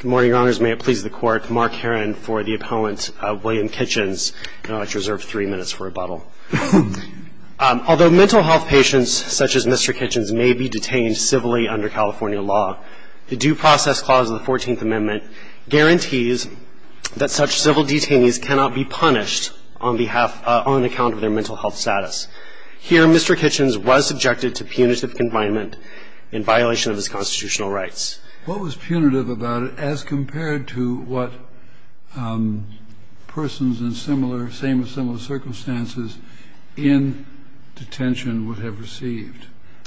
Good morning, Your Honors. May it please the Court, Mark Herron for the Opponent, William Kitchens. I'd like to reserve three minutes for rebuttal. Although mental health patients such as Mr. Kitchens may be detained civilly under California law, the Due Process Clause of the 14th Amendment guarantees that such civil detainees cannot be punished on behalf, on account of their mental health status. Here, Mr. Kitchens was subjected to punitive confinement in violation of his constitutional rights. What was punitive about it as compared to what persons in similar, same-as-similar circumstances in detention would have received?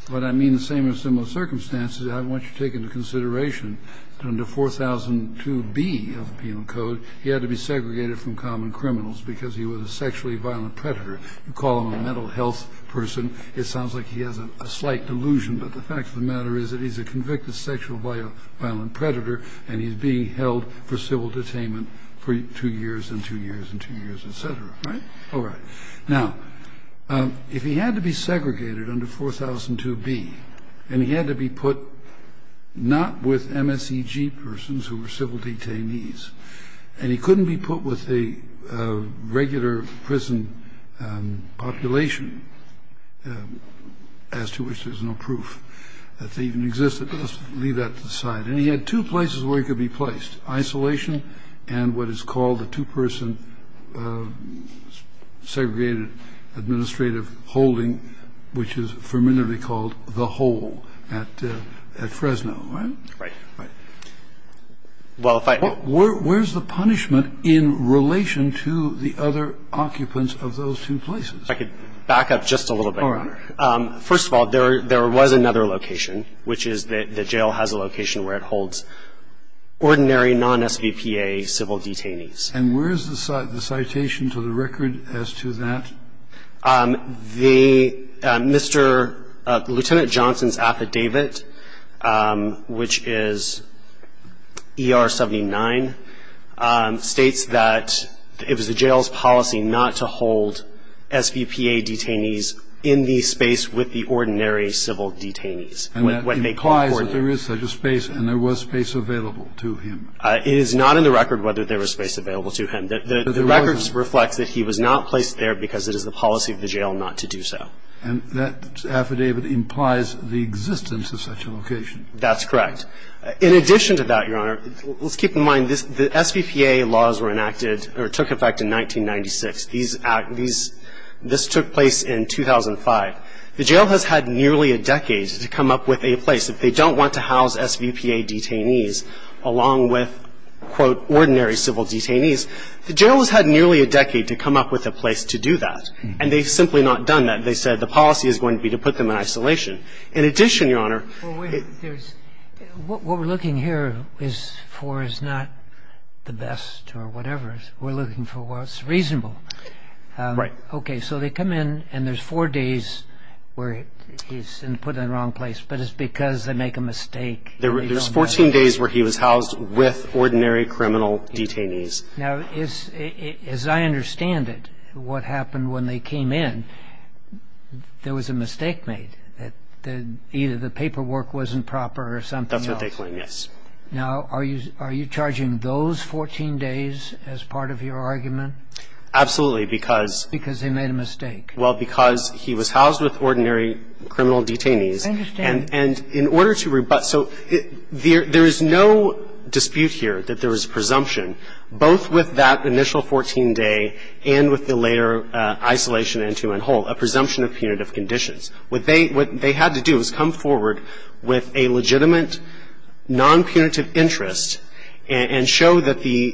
When I mean the same-as-similar circumstances, I want you to take into consideration that under 4002B of the Penal Code, he had to be segregated from common criminals because he was a sexually violent predator. You call him a mental health person, it sounds like he has a slight delusion, but the fact of the matter is that he's a convicted sexually violent predator and he's being held for civil detainment for two years and two years and two years, etc. All right. Now, if he had to be segregated under 4002B and he had to be put not with MSEG persons who were civil detainees, and he couldn't be put with a regular prison population as to which there's no proof that they even existed, but let's leave that to the side. And he had two places where he could be placed, isolation and what is called the two-person segregated administrative holding, which is formidably called the hole at Fresno, right? Right. Where's the punishment in relation to the other occupants of those two places? If I could back up just a little bit. All right. First of all, there was another location, which is the jail has a location where it holds ordinary non-SVPA civil detainees. And where's the citation to the record as to that? The Mr. Lieutenant Johnson's affidavit, which is ER 79, states that it was the jail's policy not to hold SVPA detainees in the space with the ordinary civil detainees. And that implies that there is such a space and there was space available to him. It is not in the record whether there was space available to him. The records reflect that he was not placed there because it is the policy of the jail not to do so. And that affidavit implies the existence of such a location. That's correct. In addition to that, Your Honor, let's keep in mind the SVPA laws were enacted or took effect in 1996. These took place in 2005. The jail has had nearly a decade to come up with a place. If they don't want to house SVPA detainees along with, quote, ordinary civil detainees, the jail has had nearly a decade to come up with a place to do that. And they've simply not done that. They said the policy is going to be to put them in isolation. In addition, Your Honor — What we're looking here for is not the best or whatever. We're looking for what's reasonable. Right. Okay. So they come in, and there's four days where he's been put in the wrong place, but it's because they make a mistake. There's 14 days where he was housed with ordinary criminal detainees. Now, as I understand it, what happened when they came in, there was a mistake made. Either the paperwork wasn't proper or something else. That's what they claim, yes. Now, are you charging those 14 days as part of your argument? Absolutely, because — Because they made a mistake. Well, because he was housed with ordinary criminal detainees. I understand. And in order to rebut — so there is no dispute here that there was presumption, both with that initial 14-day and with the later isolation into and whole, a presumption of punitive conditions. What they had to do was come forward with a legitimate nonpunitive interest and show that the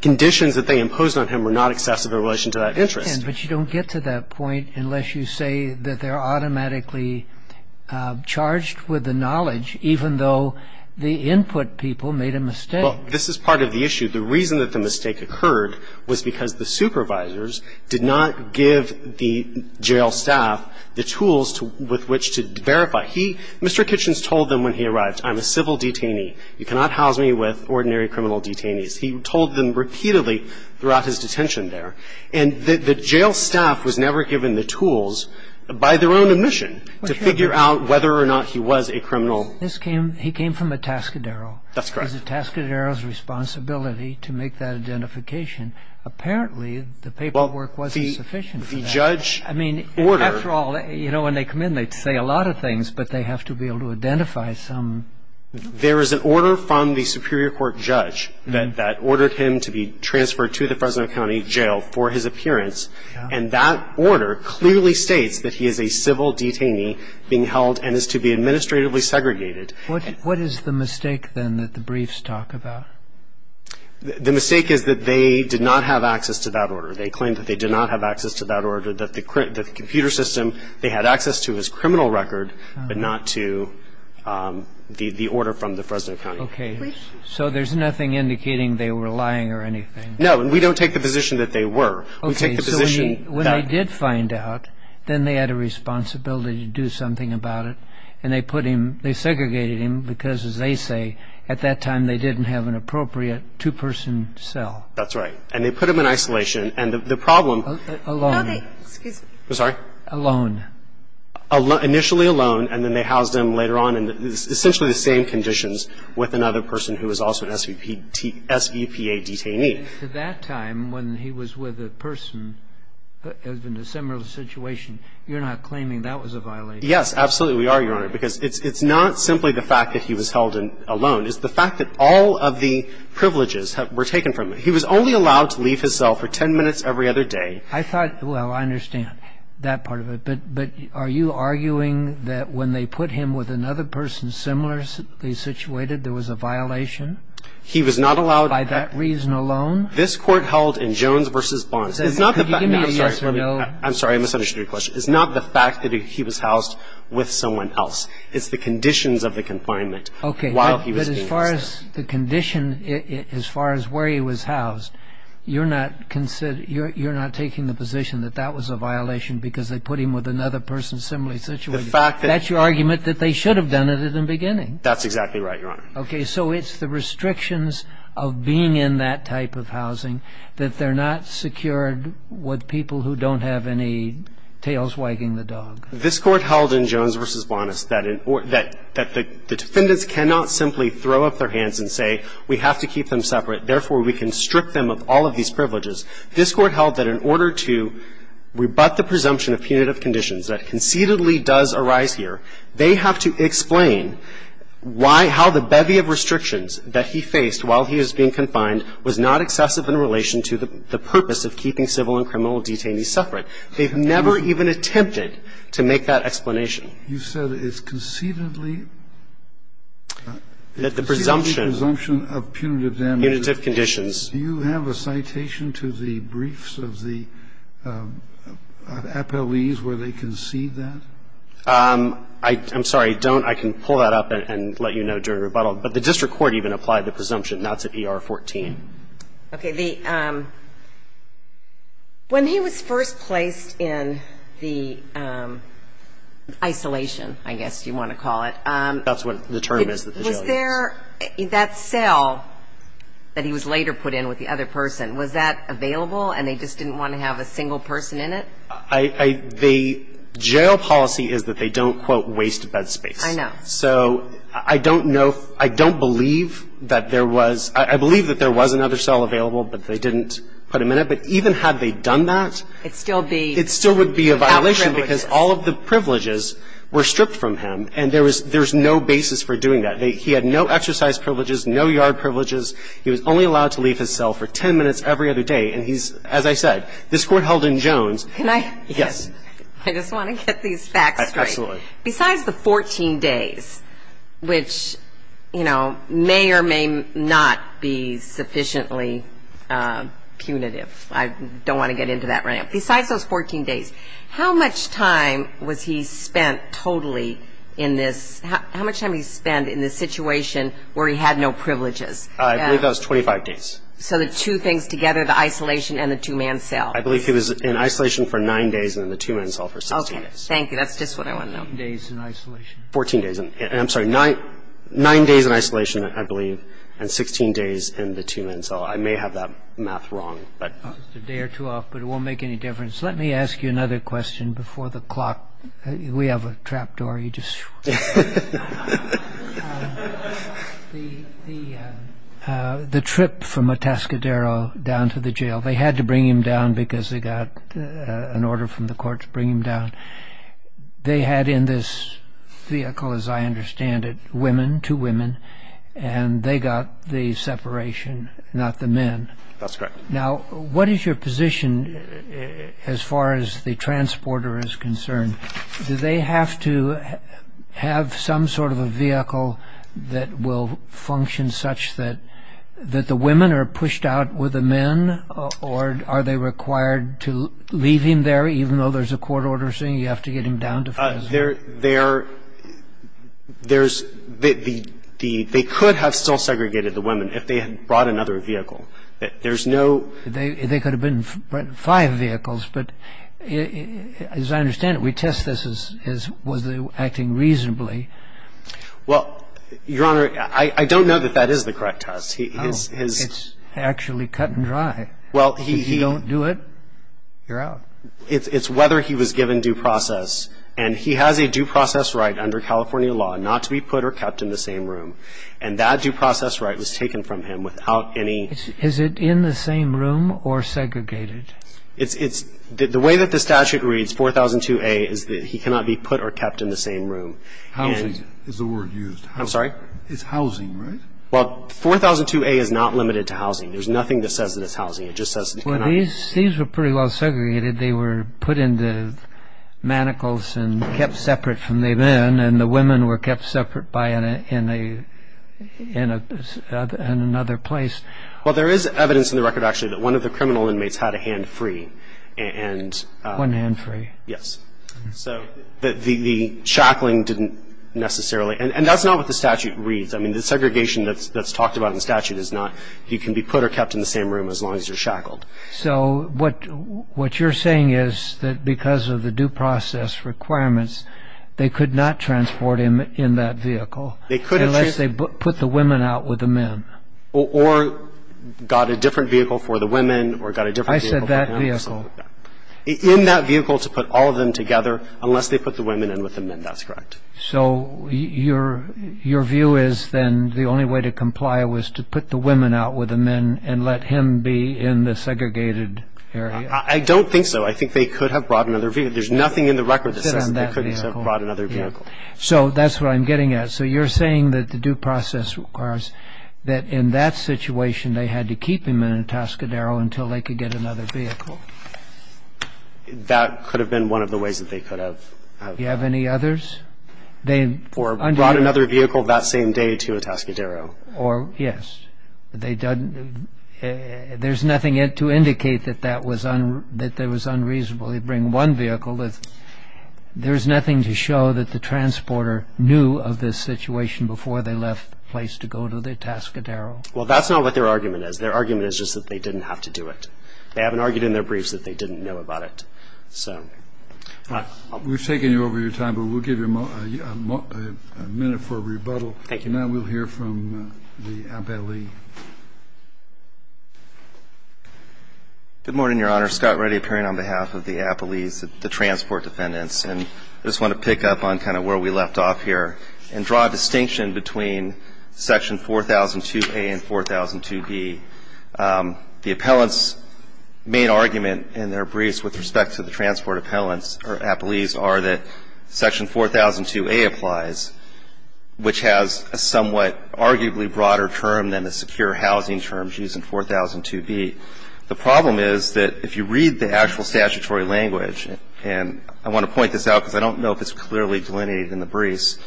conditions that they imposed on him were not excessive in relation to that interest. But you don't get to that point unless you say that they're automatically charged with the knowledge, even though the input people made a mistake. Well, this is part of the issue. The reason that the mistake occurred was because the supervisors did not give the jail staff the tools with which to verify. He — Mr. Kitchens told them when he arrived, I'm a civil detainee. You cannot house me with ordinary criminal detainees. He told them repeatedly throughout his detention there. And the jail staff was never given the tools by their own admission to figure out whether or not he was a criminal. This came — he came from a Tascadero. That's correct. It was a Tascadero's responsibility to make that identification. Apparently, the paperwork wasn't sufficient for that. Well, the judge ordered — I mean, after all, you know, when they come in, they say a lot of things, but they have to be able to identify some. There is an order from the superior court judge that ordered him to be transferred to the Fresno County Jail for his appearance. And that order clearly states that he is a civil detainee being held and is to be administratively segregated. What is the mistake, then, that the briefs talk about? The mistake is that they did not have access to that order. They claimed that they did not have access to that order, that the computer system they had access to his criminal record, but not to the order from the Fresno County. Okay. So there's nothing indicating they were lying or anything? No, and we don't take the position that they were. We take the position that — Okay, so when they did find out, then they had a responsibility to do something about it. And they put him — they segregated him because, as they say, at that time they didn't have an appropriate two-person cell. That's right. And they put him in isolation. And the problem — Alone. Excuse me. I'm sorry? Alone. Initially alone, and then they housed him later on in essentially the same conditions with another person who was also an SVPA detainee. And to that time, when he was with a person in a similar situation, you're not claiming that was a violation? Yes, absolutely we are, Your Honor, because it's not simply the fact that he was held alone. It's the fact that all of the privileges were taken from him. He was only allowed to leave his cell for 10 minutes every other day. I thought — well, I understand that part of it. But are you arguing that when they put him with another person similarly situated, there was a violation? He was not allowed — By that reason alone? This Court held in Jones v. Bonds. It's not the fact — Could you give me a yes or no? I'm sorry. I misunderstood your question. It's not the fact that he was housed with someone else. It's the conditions of the confinement while he was being held. As far as the condition, as far as where he was housed, you're not taking the position that that was a violation because they put him with another person similarly situated. The fact that — That's your argument that they should have done it at the beginning. That's exactly right, Your Honor. Okay. So it's the restrictions of being in that type of housing that they're not secured with people who don't have any tails wagging the dog. This Court held in Jones v. Bonds that the defendants cannot simply throw up their hands and say, we have to keep them separate. Therefore, we can strip them of all of these privileges. This Court held that in order to rebut the presumption of punitive conditions that concededly does arise here, they have to explain why — how the bevy of restrictions that he faced while he was being confined was not excessive in relation to the purpose of keeping civil and criminal detainees separate. They've never even attempted to make that explanation. You said it's concededly — That the presumption — Concededly presumption of punitive damages. Punitive conditions. Do you have a citation to the briefs of the appellees where they concede that? I'm sorry. Don't. I can pull that up and let you know during rebuttal. But the district court even applied the presumption. That's at ER 14. Okay. The — when he was first placed in the isolation, I guess you want to call it. That's what the term is that the jail uses. Was there — that cell that he was later put in with the other person, was that available and they just didn't want to have a single person in it? I — the jail policy is that they don't, quote, waste bed space. I know. So I don't know — I don't believe that there was — I believe that there was another cell available, but they didn't put him in it. But even had they done that — It still would be — It still would be a violation because all of the privileges were stripped from him, and there was — there's no basis for doing that. He had no exercise privileges, no yard privileges. He was only allowed to leave his cell for 10 minutes every other day. And he's — as I said, this court held in Jones. Can I — Yes. I just want to get these facts straight. Absolutely. Besides the 14 days, which, you know, may or may not be sufficiently punitive. I don't want to get into that right now. Besides those 14 days, how much time was he spent totally in this — how much time did he spend in this situation where he had no privileges? I believe that was 25 days. So the two things together, the isolation and the two-man cell. I believe he was in isolation for nine days and in the two-man cell for 16 days. Thank you. That's just what I want to know. Fourteen days in isolation. Fourteen days. And I'm sorry, nine days in isolation, I believe, and 16 days in the two-man cell. I may have that math wrong, but — Just a day or two off, but it won't make any difference. Let me ask you another question before the clock — we have a trap door, you just — The trip from Atascadero down to the jail, they had to bring him down because they got an order from the court to bring him down. They had in this vehicle, as I understand it, women, two women, and they got the separation, not the men. That's correct. Now, what is your position as far as the transporter is concerned? Do they have to have some sort of a vehicle that will function such that the women are pushed out with the men, or are they required to leave him there, even though there's a court order saying you have to get him down to prison? There's — they could have still segregated the women if they had brought another vehicle. There's no — They could have been five vehicles, but as I understand it, we test this as was they acting reasonably. Well, Your Honor, I don't know that that is the correct test. It's actually cut and dry. Well, he — If you don't do it, you're out. It's whether he was given due process, and he has a due process right under California law not to be put or kept in the same room, and that due process right was taken from him without any — Is it in the same room or segregated? It's — the way that the statute reads, 4002A, is that he cannot be put or kept in the same room. Housing is the word used. I'm sorry? It's housing, right? Well, 4002A is not limited to housing. There's nothing that says that it's housing. It just says that he cannot be — Well, these were pretty well segregated. They were put into manacles and kept separate from the men, and the women were kept separate by — in another place. Well, there is evidence in the record, actually, that one of the criminal inmates had a hand free, and — One hand free. Yes. So the shackling didn't necessarily — and that's not what the statute reads. I mean, the segregation that's talked about in the statute is not he can be put or kept in the same room as long as you're shackled. So what you're saying is that because of the due process requirements, they could not transport him in that vehicle unless they put the women out with the men. Or got a different vehicle for the women or got a different vehicle — I said that vehicle. In that vehicle to put all of them together unless they put the women in with the men. That's correct. So your view is then the only way to comply was to put the women out with the men and let him be in the segregated area. I don't think so. I think they could have brought another vehicle. There's nothing in the record that says they couldn't have brought another vehicle. So that's what I'm getting at. So you're saying that the due process requires that in that situation they had to keep him in a Tascadero until they could get another vehicle. That could have been one of the ways that they could have. Do you have any others? Or brought another vehicle that same day to a Tascadero. Yes. There's nothing to indicate that that was unreasonable. They bring one vehicle. There's nothing to show that the transporter knew of this situation before they left the place to go to the Tascadero. Well, that's not what their argument is. Their argument is just that they didn't have to do it. They haven't argued in their briefs that they didn't know about it. We've taken you over your time, but we'll give you a minute for a rebuttal. Thank you. Now we'll hear from the appellee. Good morning, Your Honor. Scott Reddy appearing on behalf of the appellees, the transport defendants. And I just want to pick up on kind of where we left off here and draw a distinction between Section 4002A and 4002B. The appellants' main argument in their briefs with respect to the transport appellants or appellees are that Section 4002A applies, which has a somewhat arguably broader term than the secure housing terms used in 4002B. The problem is that if you read the actual statutory language, and I want to point this out because I don't know if it's clearly delineated in the briefs,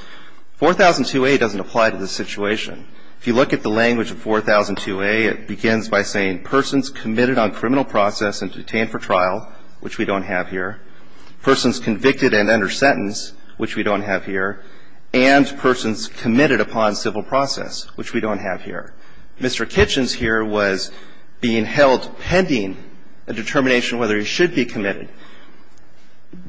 4002A doesn't apply to this situation. If you look at the language of 4002A, it begins by saying persons committed on criminal process and detained for trial, which we don't have here, persons convicted and under sentence, which we don't have here, and persons committed upon civil process, which we don't have here. Mr. Kitchens here was being held pending a determination whether he should be committed.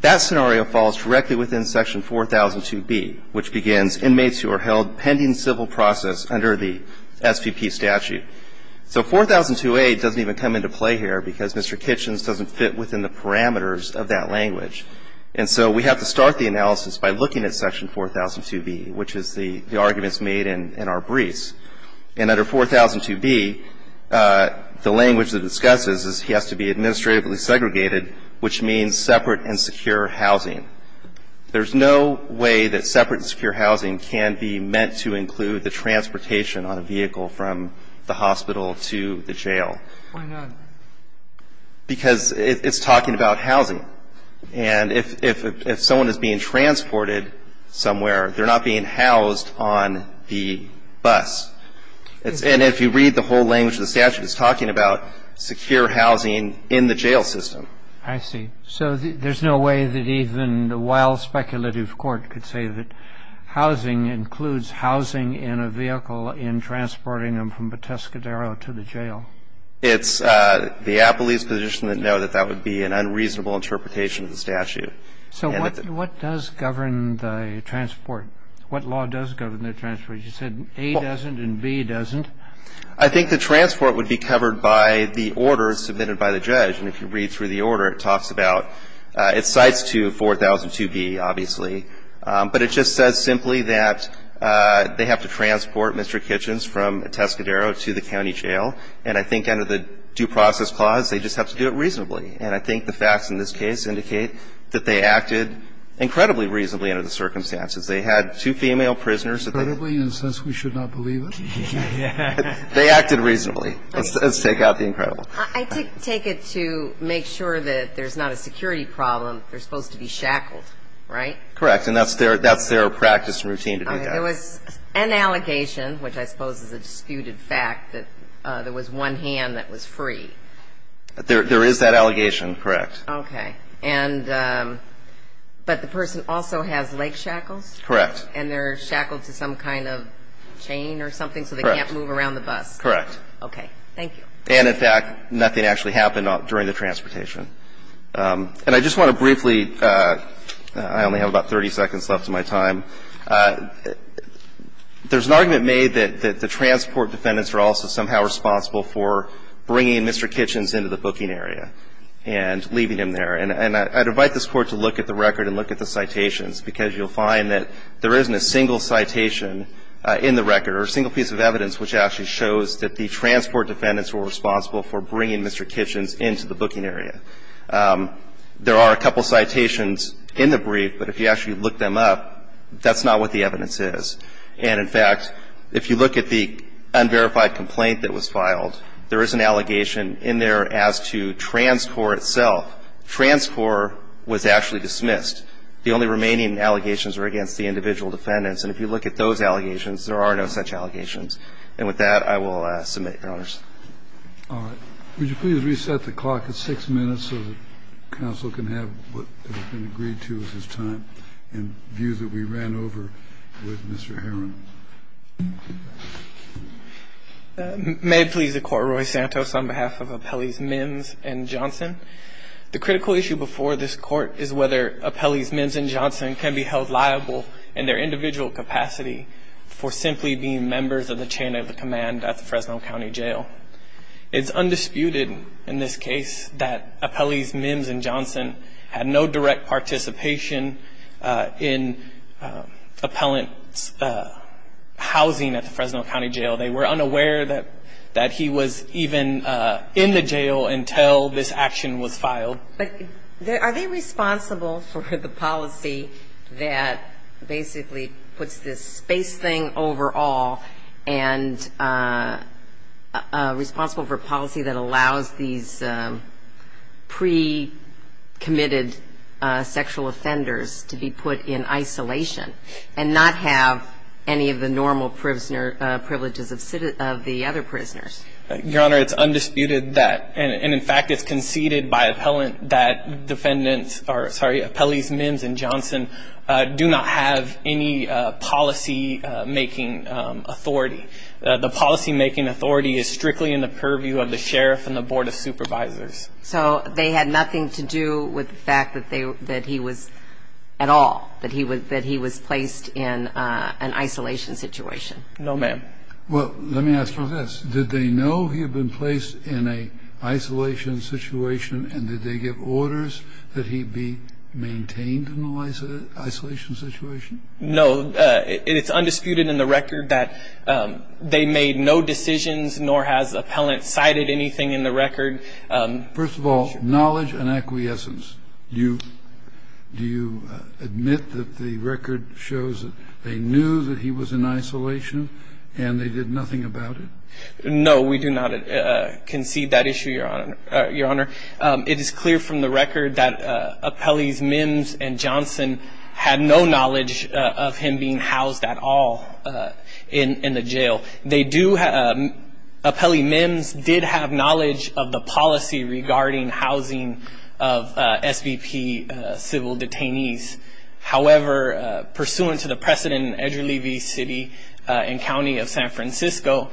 That scenario falls directly within Section 4002B, which begins inmates who are held pending civil process under the SVP statute. So 4002A doesn't even come into play here because Mr. Kitchens doesn't fit within the parameters of that language. And so we have to start the analysis by looking at Section 4002B, which is the arguments made in our briefs. And under 4002B, the language that it discusses is he has to be administratively segregated, which means separate and secure housing. There's no way that separate and secure housing can be meant to include the transportation on a vehicle from the hospital to the jail. Why not? Because it's talking about housing. And if someone is being transported somewhere, they're not being housed on the bus. And if you read the whole language of the statute, it's talking about secure housing in the jail system. I see. So there's no way that even a well-speculative court could say that housing includes housing in a vehicle in transporting them from the Tuscadero to the jail? It's the appellee's position to know that that would be an unreasonable interpretation of the statute. So what does govern the transport? What law does govern the transport? You said A doesn't and B doesn't. I think the transport would be covered by the order submitted by the judge. And if you read through the order, it talks about its cites to 4002B, obviously. But it just says simply that they have to transport Mr. Kitchens from Tuscadero to the county jail. And I think under the Due Process Clause, they just have to do it reasonably. And I think the facts in this case indicate that they acted incredibly reasonably under the circumstances. They had two female prisoners. Incredibly, in the sense we should not believe it? They acted reasonably. Let's take out the incredible. I take it to make sure that there's not a security problem. They're supposed to be shackled, right? Correct. And that's their practice and routine to do that. There was an allegation, which I suppose is a disputed fact, that there was one hand that was free. There is that allegation, correct. Okay. And but the person also has leg shackles? Correct. And they're shackled to some kind of chain or something so they can't move around the bus? Correct. Okay. Thank you. And, in fact, nothing actually happened during the transportation. And I just want to briefly – I only have about 30 seconds left of my time. There's an argument made that the transport defendants are also somehow responsible for bringing Mr. Kitchens into the booking area and leaving him there. And I'd invite this Court to look at the record and look at the citations, because you'll find that there isn't a single citation in the record or a single piece of evidence which actually shows that the transport defendants were responsible for bringing Mr. Kitchens into the booking area. There are a couple citations in the brief, but if you actually look them up, that's not what the evidence is. And, in fact, if you look at the unverified complaint that was filed, there is an allegation in there as to transport itself. Transport was actually dismissed. The only remaining allegations are against the individual defendants. And if you look at those allegations, there are no such allegations. And with that, I will submit, Your Honors. All right. Would you please reset the clock at six minutes so that counsel can have what has been agreed to as his time and views that we ran over with Mr. Herron? May it please the Court, Roy Santos, on behalf of Apelles, Mims, and Johnson. The critical issue before this Court is whether Apelles, Mims, and Johnson can be held liable in their individual capacity for simply being members of the chain of command at the Fresno County Jail. It's undisputed in this case that Apelles, Mims, and Johnson had no direct participation in appellant's housing at the Fresno County Jail. They were unaware that he was even in the jail until this action was filed. But are they responsible for the policy that basically puts this space thing over all and responsible for policy that allows these pre-committed sexual offenders to be put in isolation and not have any of the normal privileges of the other prisoners? Your Honor, it's undisputed that. And, in fact, it's conceded by appellant that defendants or, sorry, Apelles, Mims, and Johnson do not have any policy-making authority. The policy-making authority is strictly in the purview of the sheriff and the board of supervisors. So they had nothing to do with the fact that he was at all, that he was placed in an isolation situation? No, ma'am. Well, let me ask you this. Did they know he had been placed in an isolation situation, and did they give orders that he be maintained in the isolation situation? No. It's undisputed in the record that they made no decisions, nor has appellant cited anything in the record. First of all, knowledge and acquiescence. Do you admit that the record shows that they knew that he was in isolation and they did nothing about it? No, we do not concede that issue, Your Honor. It is clear from the record that Apelles, Mims, and Johnson had no knowledge of him being housed at all in the jail. Apelles, Mims did have knowledge of the policy regarding housing of SVP civil detainees. However, pursuant to the precedent in Edgerly v. City and County of San Francisco,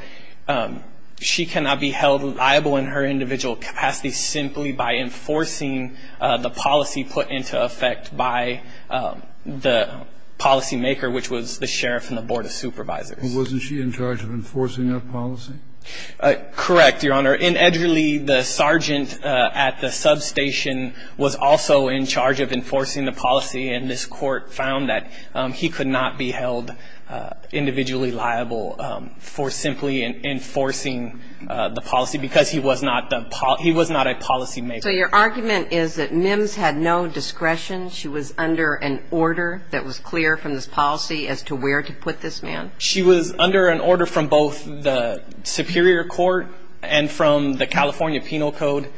she cannot be held liable in her individual capacity simply by enforcing the policy put into effect by the policymaker, which was the sheriff and the board of supervisors. Wasn't she in charge of enforcing that policy? Correct, Your Honor. In Edgerly, the sergeant at the substation was also in charge of enforcing the policy, and this Court found that he could not be held individually liable for simply enforcing the policy because he was not a policymaker. So your argument is that Mims had no discretion, she was under an order that was clear from this policy as to where to put this man? She was under an order from both the Superior Court and from the California Penal Code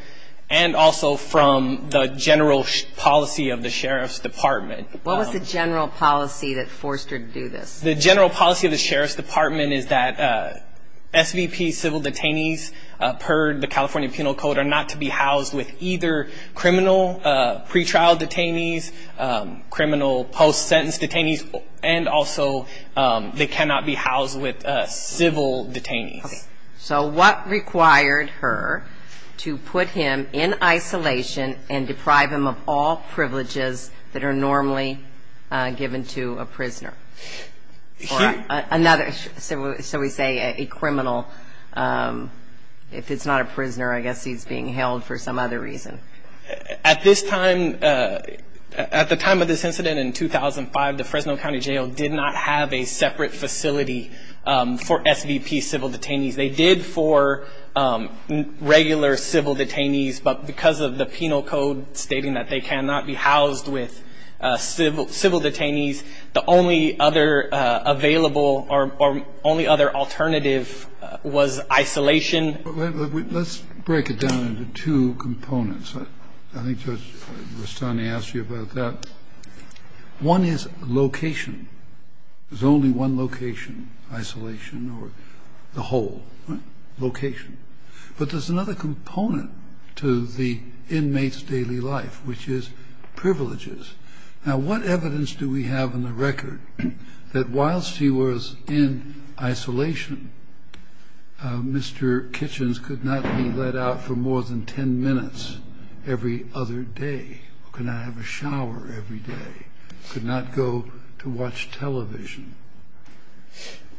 and also from the general policy of the Sheriff's Department. What was the general policy that forced her to do this? The general policy of the Sheriff's Department is that SVP civil detainees per the California Penal Code are not to be housed with either criminal pretrial detainees, criminal post-sentence detainees, and also they cannot be housed with civil detainees. Okay. So what required her to put him in isolation and deprive him of all privileges that are normally given to a prisoner or another, shall we say, a criminal? If it's not a prisoner, I guess he's being held for some other reason. At this time, at the time of this incident in 2005, the Fresno County Jail did not have a separate facility for SVP civil detainees. They did for regular civil detainees, but because of the Penal Code stating that they cannot be housed with civil detainees, the only other available or only other alternative was isolation. Let's break it down into two components. I think Judge Rustani asked you about that. One is location. There's only one location, isolation or the whole location. But there's another component to the inmate's daily life, which is privileges. Now, what evidence do we have in the record that whilst she was in isolation, Mr. Kitchens could not be let out for more than 10 minutes every other day, could not have a shower every day, could not go to watch television?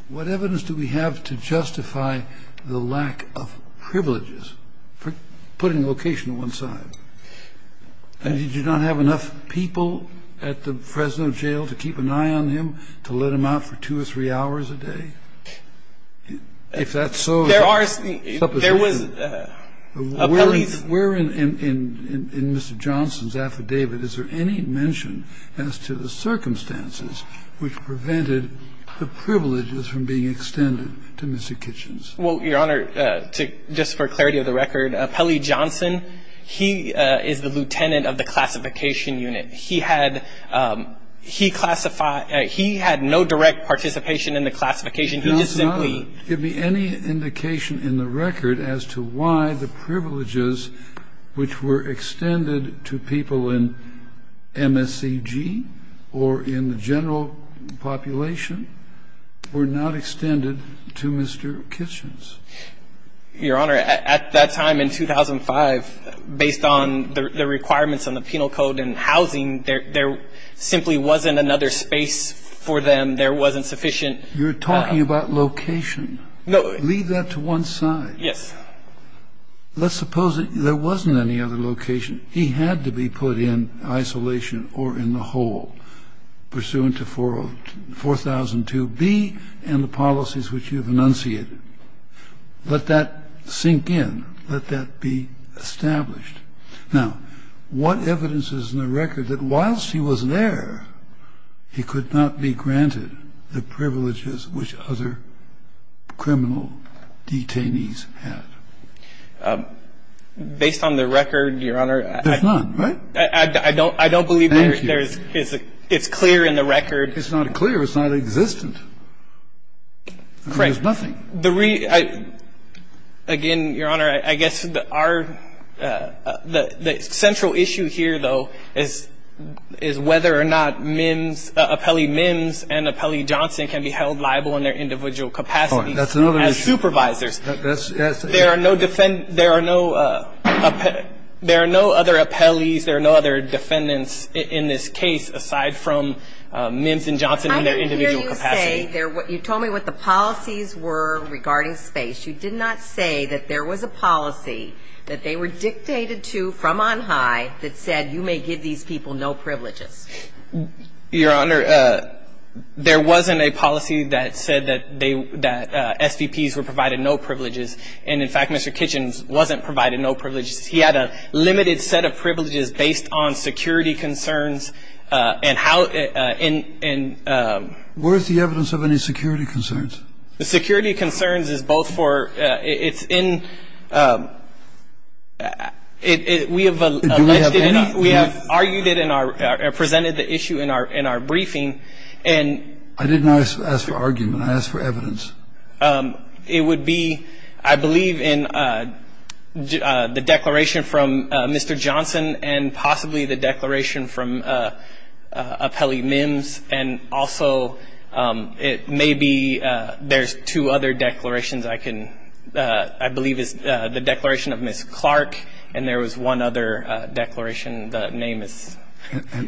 What evidence do we have to justify the lack of privileges for putting location on one side? And did you not have enough people at the Fresno Jail to keep an eye on him, to let him out for two or three hours a day? If that's so, suppose you didn't. Where in Mr. Johnson's affidavit is there any mention as to the circumstances which prevented the privileges from being extended to Mr. Kitchens? Well, Your Honor, just for clarity of the record, Pelley Johnson, he is the lieutenant of the classification unit. He had no direct participation in the classification. He just simply – Now, Your Honor, give me any indication in the record as to why the privileges which were extended to people in MSCG or in the general population were not extended to Mr. Kitchens. Your Honor, at that time in 2005, based on the requirements on the penal code and housing, there simply wasn't another space for them. There wasn't sufficient – You're talking about location. No. Leave that to one side. Yes. Let's suppose there wasn't any other location. He had to be put in isolation or in the hole, Now, what evidence is in the record that, whilst he was there, he could not be granted the privileges which other criminal detainees had? Based on the record, Your Honor, I don't believe there is a – I don't believe there is a criminal detainee. It's clear in the record. It's not clear. It's not existent. There's nothing. Again, Your Honor, I guess the central issue here, though, is whether or not MIMS, appellee MIMS and appellee Johnson can be held liable in their individual capacities as supervisors. There are no other appellees, there are no other defendants in this case aside from MIMS and Johnson in their individual capacity. I didn't hear you say – you told me what the policies were regarding space. You did not say that there was a policy that they were dictated to from on high that said, You may give these people no privileges. Your Honor, there wasn't a policy that said that SVPs were provided no privileges. And, in fact, Mr. Kitchens wasn't provided no privileges. He had a limited set of privileges based on security concerns and how – and – Where is the evidence of any security concerns? The security concerns is both for – it's in – we have – Do we have any? We have argued it in our – presented the issue in our briefing. I asked for evidence. It would be, I believe, in the declaration from Mr. Johnson and possibly the declaration from appellee MIMS, and also it may be – there's two other declarations I can – I believe is the declaration of Ms. Clark, and there was one other declaration. The name is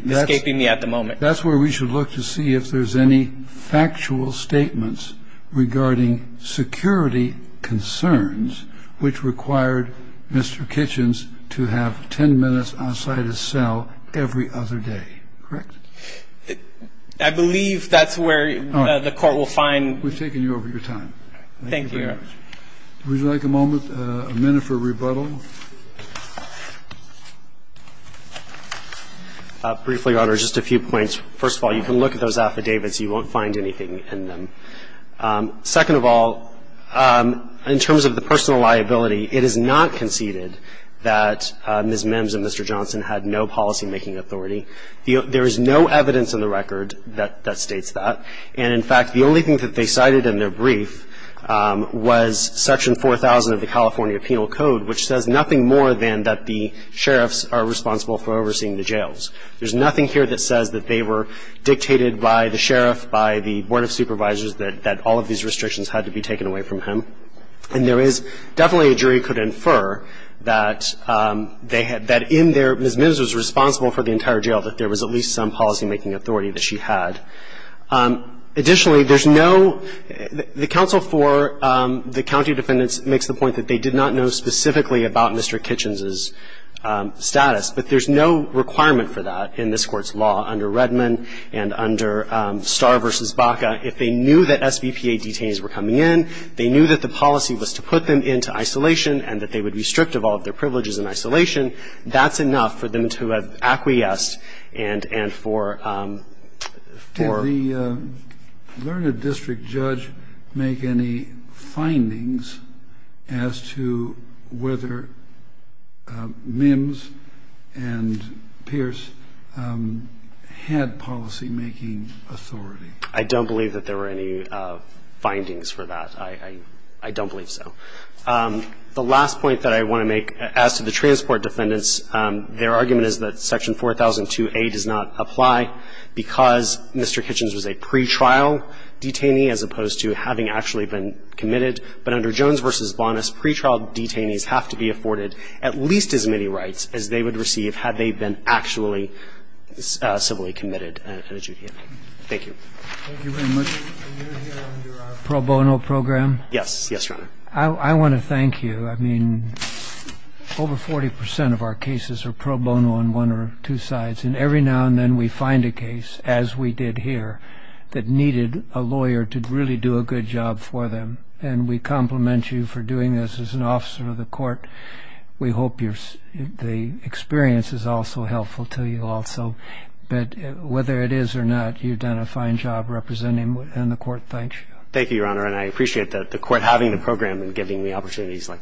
escaping me at the moment. That's where we should look to see if there's any factual statements regarding security concerns which required Mr. Kitchens to have 10 minutes outside his cell every other day. Correct? I believe that's where the Court will find – All right. We've taken you over your time. Thank you. Thank you very much. Would you like a moment, a minute for rebuttal? Briefly, Your Honor, just a few points. First of all, you can look at those affidavits. You won't find anything in them. Second of all, in terms of the personal liability, it is not conceded that Ms. MIMS and Mr. Johnson had no policymaking authority. There is no evidence in the record that states that. And, in fact, the only thing that they cited in their brief was Section 4000 of the that the sheriffs are responsible for overseeing the jails. There's nothing here that says that they were dictated by the sheriff, by the Board of Supervisors, that all of these restrictions had to be taken away from him. And there is – definitely a jury could infer that in their – Ms. MIMS was responsible for the entire jail, that there was at least some policymaking authority that she had. Additionally, there's no – the counsel for the county defendants makes the point that they did not know specifically about Mr. Kitchens' status. But there's no requirement for that in this Court's law under Redmond and under Starr v. Baca. If they knew that SBPA detainees were coming in, they knew that the policy was to put them into isolation and that they would restrict all of their privileges in isolation, that's enough for them to have acquiesced and for – for – I don't believe that there were any findings for that. I – I don't believe so. The last point that I want to make as to the transport defendants, their argument is that Section 4002a does not apply because Mr. Kitchens was a pretrial detainee as opposed to having actually been committed. have to be afforded at least as many rights as they would receive had they been actually civilly committed at a juvenile. Thank you. Thank you very much. And you're here under our pro-bono program? Yes, yes, Your Honor. I – I want to thank you. I mean, over 40 percent of our cases are pro bono on one or two sides, and every now and then we find a case, as we did here, that needed a lawyer to really do a good job for them. And we compliment you for doing this as an officer of the court. We hope you're – the experience is also helpful to you also. But whether it is or not, you've done a fine job representing – and the court thanks you. Thank you, Your Honor, and I appreciate the court having the program and giving me opportunities like this. Thank you.